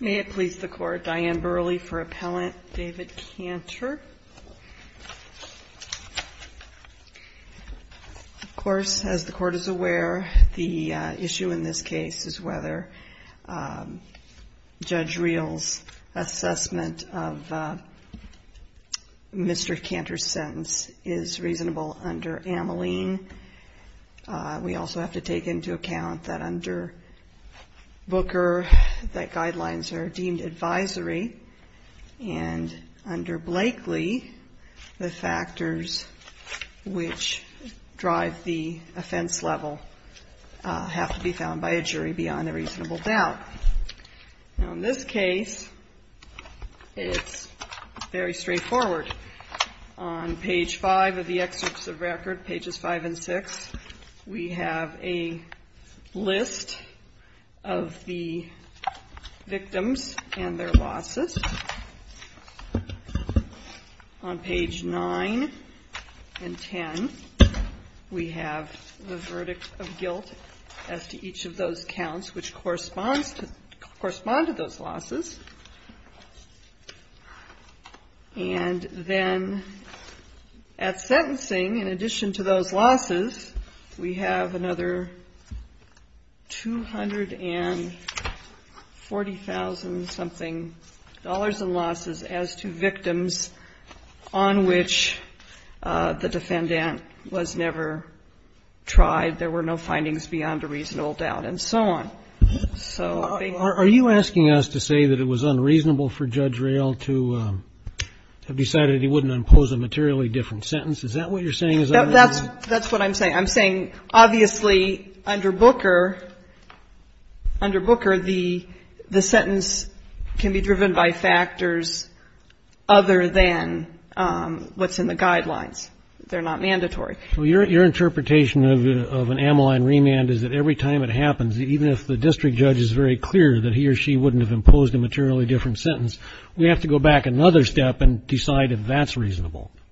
May it please the Court, Diane Burley for Appellant, David Canter. Of course, as the Court is aware, the issue in this case is whether Judge Reel's assessment of Mr. Canter's reasonable under Ameline. We also have to take into account that under Booker that guidelines are deemed advisory, and under Blakely the factors which drive the offense level have to be found by a jury beyond a reasonable doubt. Now in this case, it's very simple. In the excerpts of record, pages 5 and 6, we have a list of the victims and their losses. On page 9 and 10, we have the verdict of guilt as to each of those counts which correspond to those losses. And then at sentencing, in addition to those losses, we have another $240,000-something in losses as to victims on which the defendant was never tried, there were no findings beyond a reasonable doubt, and so on. So I think we're going to have to look at that. Roberts. Are you asking us to say that it was unreasonable for Judge Reel to have decided he wouldn't impose a materially different sentence? Is that what you're saying? Is that what you're saying? Burley. That's what I'm saying. I'm saying, obviously, under Booker, under Booker, the sentence can be driven by factors other than what's in the guidelines. They're not mandatory. Roberts. So your interpretation of an amyline remand is that every time it happens, even if the district judge is very clear that he or she wouldn't have imposed a materially different sentence, we have to go back another step and decide if that's reasonable. Burley.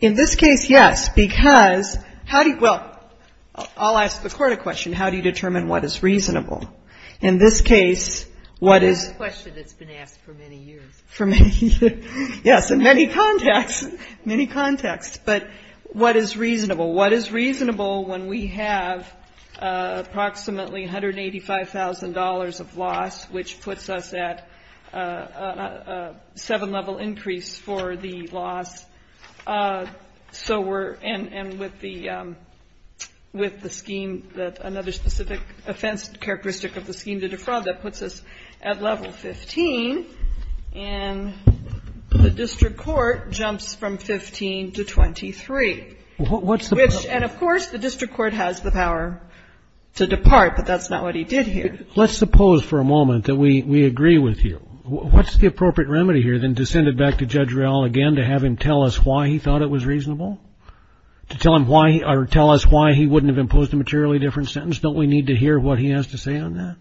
In this case, yes, because how do you – well, I'll ask the court a question. How do you determine what is reasonable? In this case, what is – Burley. That's a question that's been asked for many years. Burley. For many years. Yes, in many contexts. But what is reasonable? What is reasonable when we have approximately $185,000 of loss, which puts us at a seven-level increase for the loss. So we're – and with the scheme that – another specific offense characteristic of the scheme, the defraud, that puts us at level 15, and the district court jumps from 15 to 23, which – and, of course, the district court has the power to depart, but that's not what he did here. Roberts. Let's suppose for a moment that we agree with you. What's the appropriate way, again, to have him tell us why he thought it was reasonable? To tell him why – or tell us why he wouldn't have imposed a materially different sentence? Don't we need to hear what he has to say on that?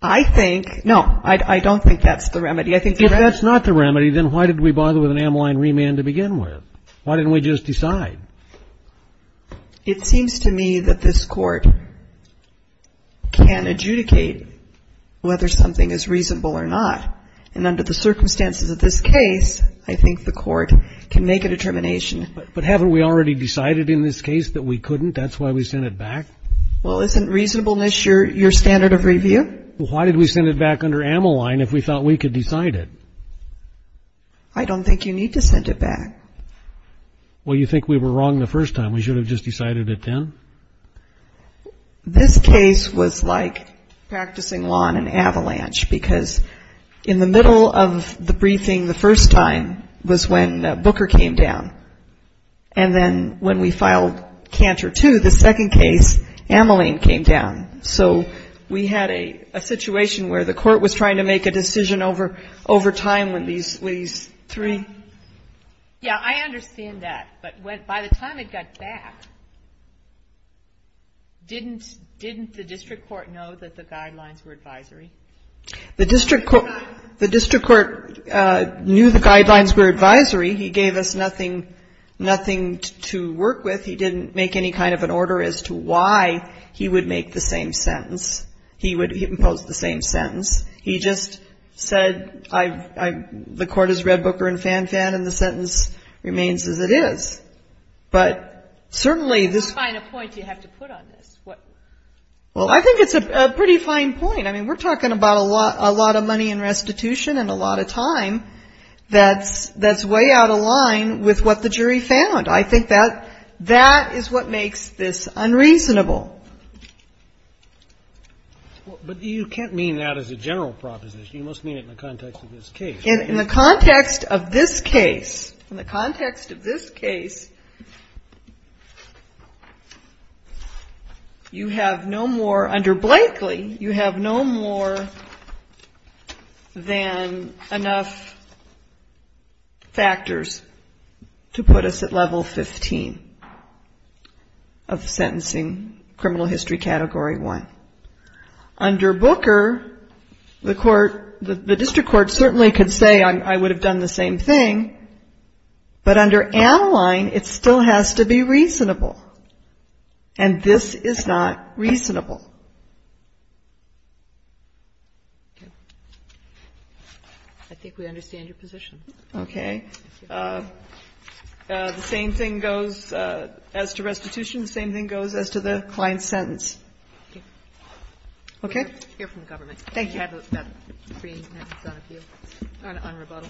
Burley. I think – no, I don't think that's the remedy. I think the remedy – Roberts. If that's not the remedy, then why did we bother with an amline remand to begin with? Why didn't we just decide? Burley. It seems to me that this court can adjudicate whether something is reasonable or not. And under the circumstances of this case, I think the court can make a determination. Roberts. But haven't we already decided in this case that we couldn't? That's why we sent it back? Burley. Well, isn't reasonableness your standard of review? Roberts. Well, why did we send it back under amline if we thought we could decide it? Burley. I don't think you need to send it back. Roberts. Well, you think we were wrong the first time. We should have just decided it then? Burley. This case was like practicing law on an avalanche, because in the middle of the briefing the first time was when Booker came down. And then when we filed Cantor 2, the second case, amline came down. So we had a situation where the court was trying to make a decision over time when these three – Kagan. Didn't the district court know that the guidelines were advisory? Burley. The district court knew the guidelines were advisory. He gave us nothing to work with. He didn't make any kind of an order as to why he would make the same sentence. He would impose the same sentence. He just said the court is Red Booker and Fan Fan, and the sentence remains as it is. But certainly this – Kagan. What point do you have to put on this? Burley. Well, I think it's a pretty fine point. I mean, we're talking about a lot of money in restitution and a lot of time that's way out of line with what the jury found. I think that that is what makes this unreasonable. Kennedy. But you can't mean that as a general proposition. You must mean it in the context of this case. Burley. In the context of this case, in the context of this case, you have no more – under Blakely, you have no more than enough factors to put us at level 15 of sentencing, criminal history category one. Under Booker, the court – the district court certainly could say I would have done the same thing, but under Anaheim, it still has to be reasonable. And this is not reasonable. Kagan. I think we understand your position. Burley. Okay. The same thing goes as to restitution. The same thing goes as to the client's sentence. Okay? Kagan. We'll hear from the government. Burley. Thank you. May I please have the screen on rebuttal?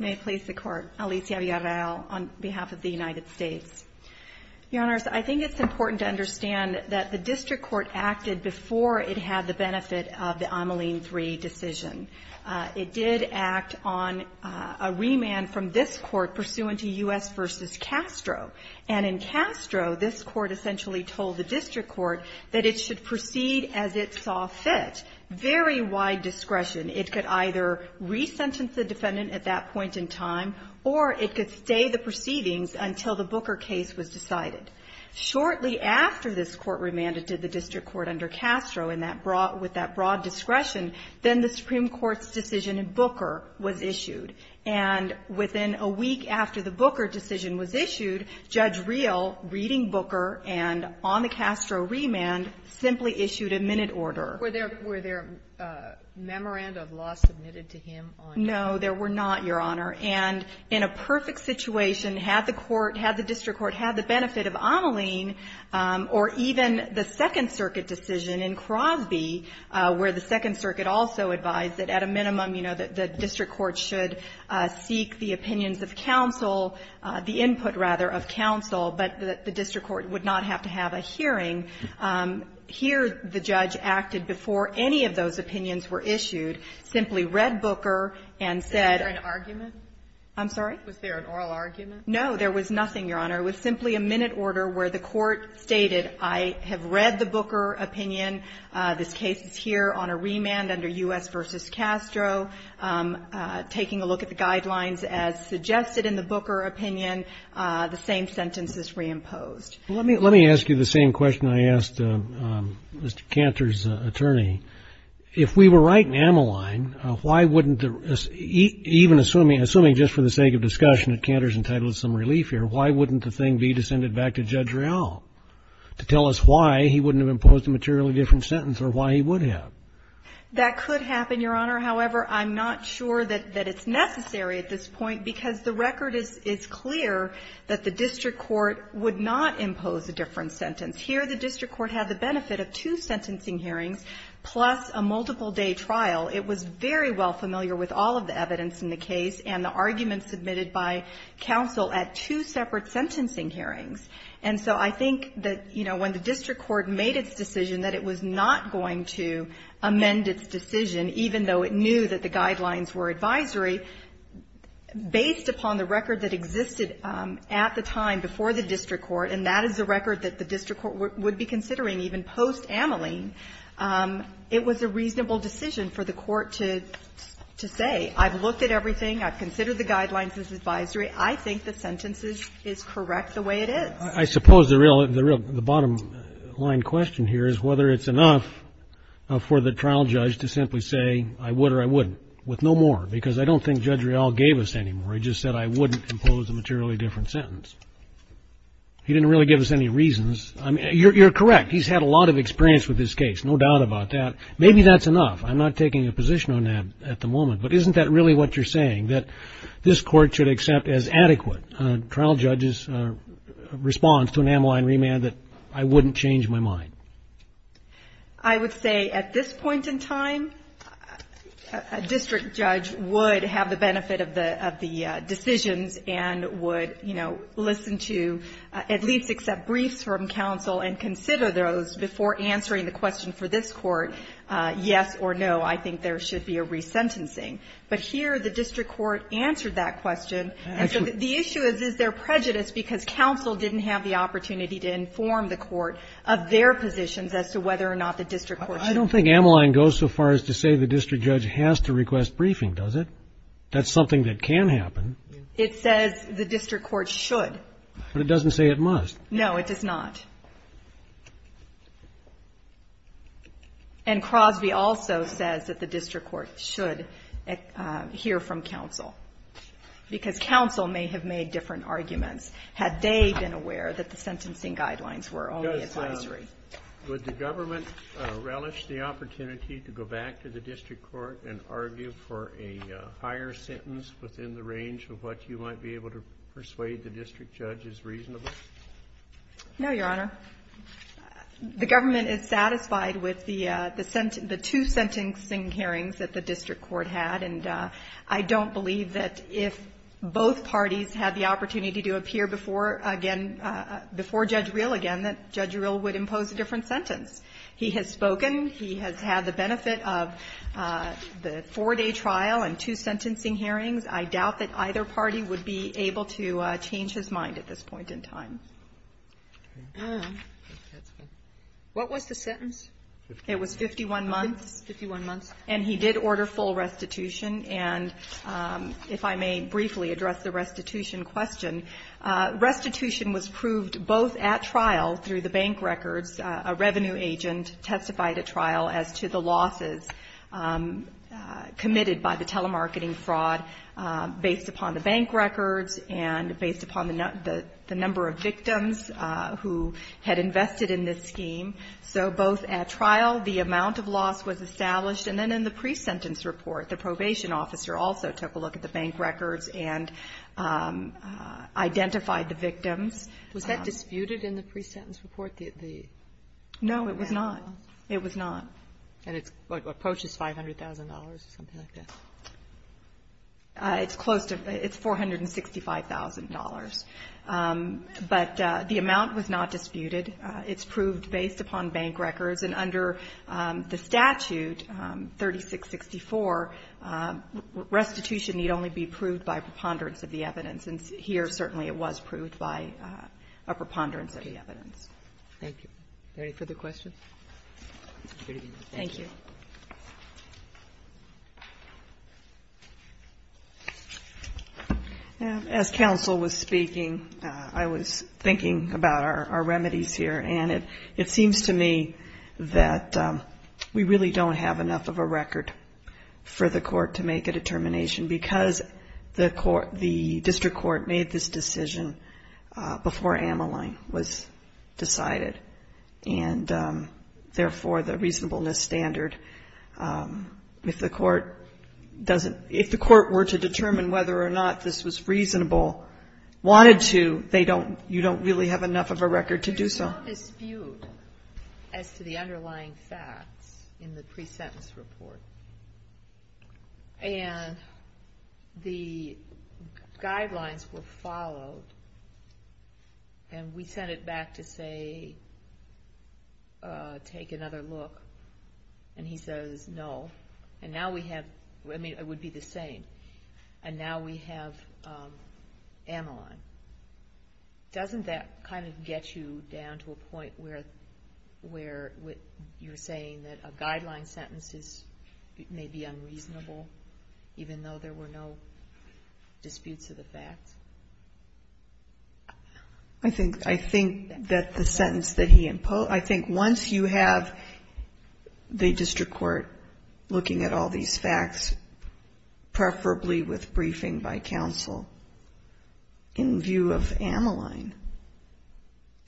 May I please have the court? Alicia Villarreal on behalf of the United States. Your Honors, I think it's important to understand that the district court acted before it had the benefit of the Ameline 3 decision. It did act on a remand from this court pursuant to U.S. v. Castro. And in Castro, this court essentially told the district court that it should proceed as it saw fit. Very wide discretion. It could either resentence the defendant at that point in time, or it could stay the proceedings until the Booker case was decided. Shortly after this court remanded to the district court under Castro with that broad discretion, then the Supreme Court's decision in Booker was issued. And within a week after the Booker decision was issued, Judge Reel, reading Booker and on the Castro remand, simply issued a minute order. Were there a memorandum of law submitted to him on that? No, there were not, Your Honor. And in a perfect situation, had the court, had the benefit of Ameline, or even the Second Circuit decision in Crosby, where the Second Circuit also advised that at a minimum, you know, that the district court should seek the opinions of counsel, the input, rather, of counsel, but the district court would not have to have a hearing. Here, the judge acted before any of those opinions were issued, simply read Booker and said ---- Was there an argument? I'm sorry? Was there an oral argument? No, there was nothing, Your Honor. It was simply a minute order where the court stated, I have read the Booker opinion. This case is here on a remand under U.S. v. Castro. Taking a look at the guidelines as suggested in the Booker opinion, the same sentence is reimposed. Let me ask you the same question I asked Mr. Cantor's attorney. If we were right in Ameline, why wouldn't the ---- even assuming, assuming just for the sake of discussion at Cantor's entitlement, some relief here, why wouldn't the thing be to send it back to Judge Real to tell us why he wouldn't have imposed a materially different sentence or why he would have? That could happen, Your Honor. However, I'm not sure that it's necessary at this point, because the record is clear that the district court would not impose a different sentence. Here, the district court had the benefit of two sentencing hearings plus a multiple-day trial. It was very well familiar with all of the evidence in the case and the arguments submitted by counsel at two separate sentencing hearings. And so I think that, you know, when the district court made its decision that it was not going to amend its decision, even though it knew that the guidelines were advisory, based upon the record that existed at the time before the district court, and that is the record that the district court would be considering even post-Ameline, it was a reasonable decision for the court to say, I've looked at everything, I've considered the guidelines as advisory, I think the sentence is correct the way it is. I suppose the real, the real, the bottom-line question here is whether it's enough for the trial judge to simply say, I would or I wouldn't, with no more, because I don't think Judge Real gave us any more. He just said I wouldn't impose a materially different sentence. He didn't really give us any reasons. I mean, you're correct. He's had a lot of experience with this case, no doubt about that. Maybe that's enough. I'm not taking a position on that at the moment. But isn't that really what you're saying, that this court should accept as adequate a trial judge's response to an Ameline remand that I wouldn't change my mind? I would say at this point in time, a district judge would have the benefit of the decisions and would, you know, listen to, at least accept briefs from counsel and consider those before answering the question for this court, yes or no, I think there should be a resentencing. But here the district court answered that question. And so the issue is, is there prejudice because counsel didn't have the opportunity to inform the court of their positions as to whether or not the district court should I don't think Ameline goes so far as to say the district judge has to request briefing, does it? That's something that can happen. It says the district court should. But it doesn't say it must. No, it does not. And Crosby also says that the district court should hear from counsel, because counsel may have made different arguments had they been aware that the sentencing guidelines were only advisory. Would the government relish the opportunity to go back to the district court and argue for a higher sentence within the range of what you might be able to persuade the district judge is reasonable? No, Your Honor. The government is satisfied with the two sentencing hearings that the district court had. And I don't believe that if both parties had the opportunity to appear before again, before Judge Reel again, that Judge Reel would impose a different sentence. He has spoken. He has had the benefit of the four-day trial and two sentencing hearings. I doubt that either party would be able to change his mind at this point in time. What was the sentence? It was 51 months. 51 months. And he did order full restitution. And if I may briefly address the restitution question, restitution was proved both at trial through the bank records, a revenue agent testified at trial as to the losses committed by the telemarketing fraud based upon the bank records and based upon the number of victims who had invested in this scheme. So both at trial, the amount of loss was established. And then in the pre-sentence report, the probation officer also took a look at the bank records and identified the victims. Was that disputed in the pre-sentence report? No, it was not. It was not. And it approaches $500,000 or something like that? It's close to. It's $465,000. But the amount was not disputed. It's proved based upon bank records. And under the statute 3664, restitution need only be proved by preponderance of the evidence. And here, certainly, it was proved by a preponderance of the evidence. Thank you. Any further questions? Thank you. As counsel was speaking, I was thinking about our remedies here. And it seems to me that we really don't have enough of a record for the court to make a determination because the district court made this decision before Ameline was decided. And therefore, the reasonableness standard, if the court were to determine whether or not this was reasonable, wanted to, you don't really have enough of a record to do so. There's no dispute as to the underlying facts in the pre-sentence report. And the guidelines were followed. And we sent it back to say, take another look. And he says, no. And now we have, I mean, it would be the same. And now we have Ameline. Doesn't that kind of get you down to a point where you're saying that a guideline sentence may be unreasonable, even though there were no disputes of the facts? I think that the sentence that he imposed, I think once you have the district court looking at all these facts, preferably with briefing by counsel, in view of Ameline,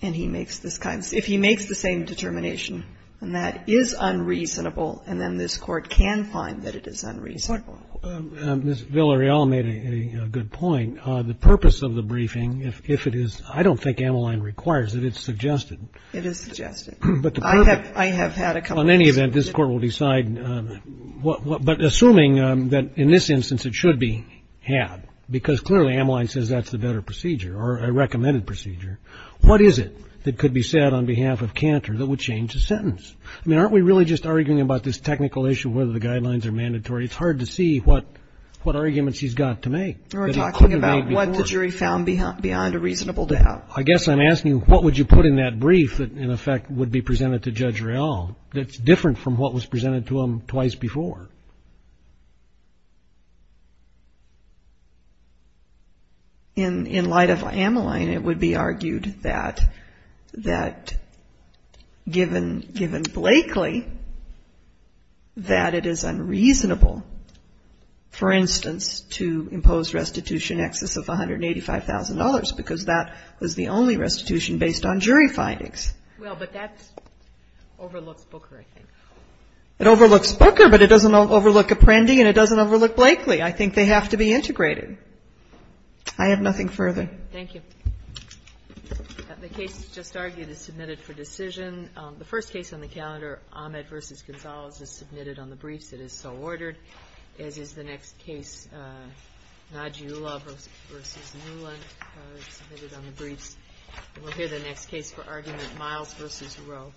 and he makes this kind of, if he makes the same determination, and that is unreasonable, and then this court can find that it is unreasonable. Ms. Villarreal made a good point. The purpose of the briefing, if it is, I don't think Ameline requires it. It's suggested. It is suggested. But the purpose. I have had a couple of cases. Well, in any event, this Court will decide what, but assuming that in this instance it should be had, because clearly Ameline says that's the better procedure or a recommended procedure, what is it that could be said on behalf of Cantor that would change the sentence? I mean, aren't we really just arguing about this technical issue, whether the guidelines are mandatory? It's hard to see what arguments he's got to make. We're talking about what the jury found beyond a reasonable doubt. I guess I'm asking, what would you put in that brief that, in effect, would be presented to Judge Real, that's different from what was presented to him twice before? In light of Ameline, it would be argued that, given Blakely, that it is unreasonable, for instance, to impose restitution excess of $185,000 because that was the only restitution based on jury findings. Well, but that overlooks Booker, I think. It overlooks Booker, but it doesn't overlook Apprendi, and it doesn't overlook Blakely. I think they have to be integrated. I have nothing further. Thank you. The case just argued is submitted for decision. The first case on the calendar, Ahmed v. Gonzales, is submitted on the briefs. It is so ordered, as is the next case, Najiullah v. Newland, submitted on the briefs. We'll hear the next case for argument, Miles v. Rowe.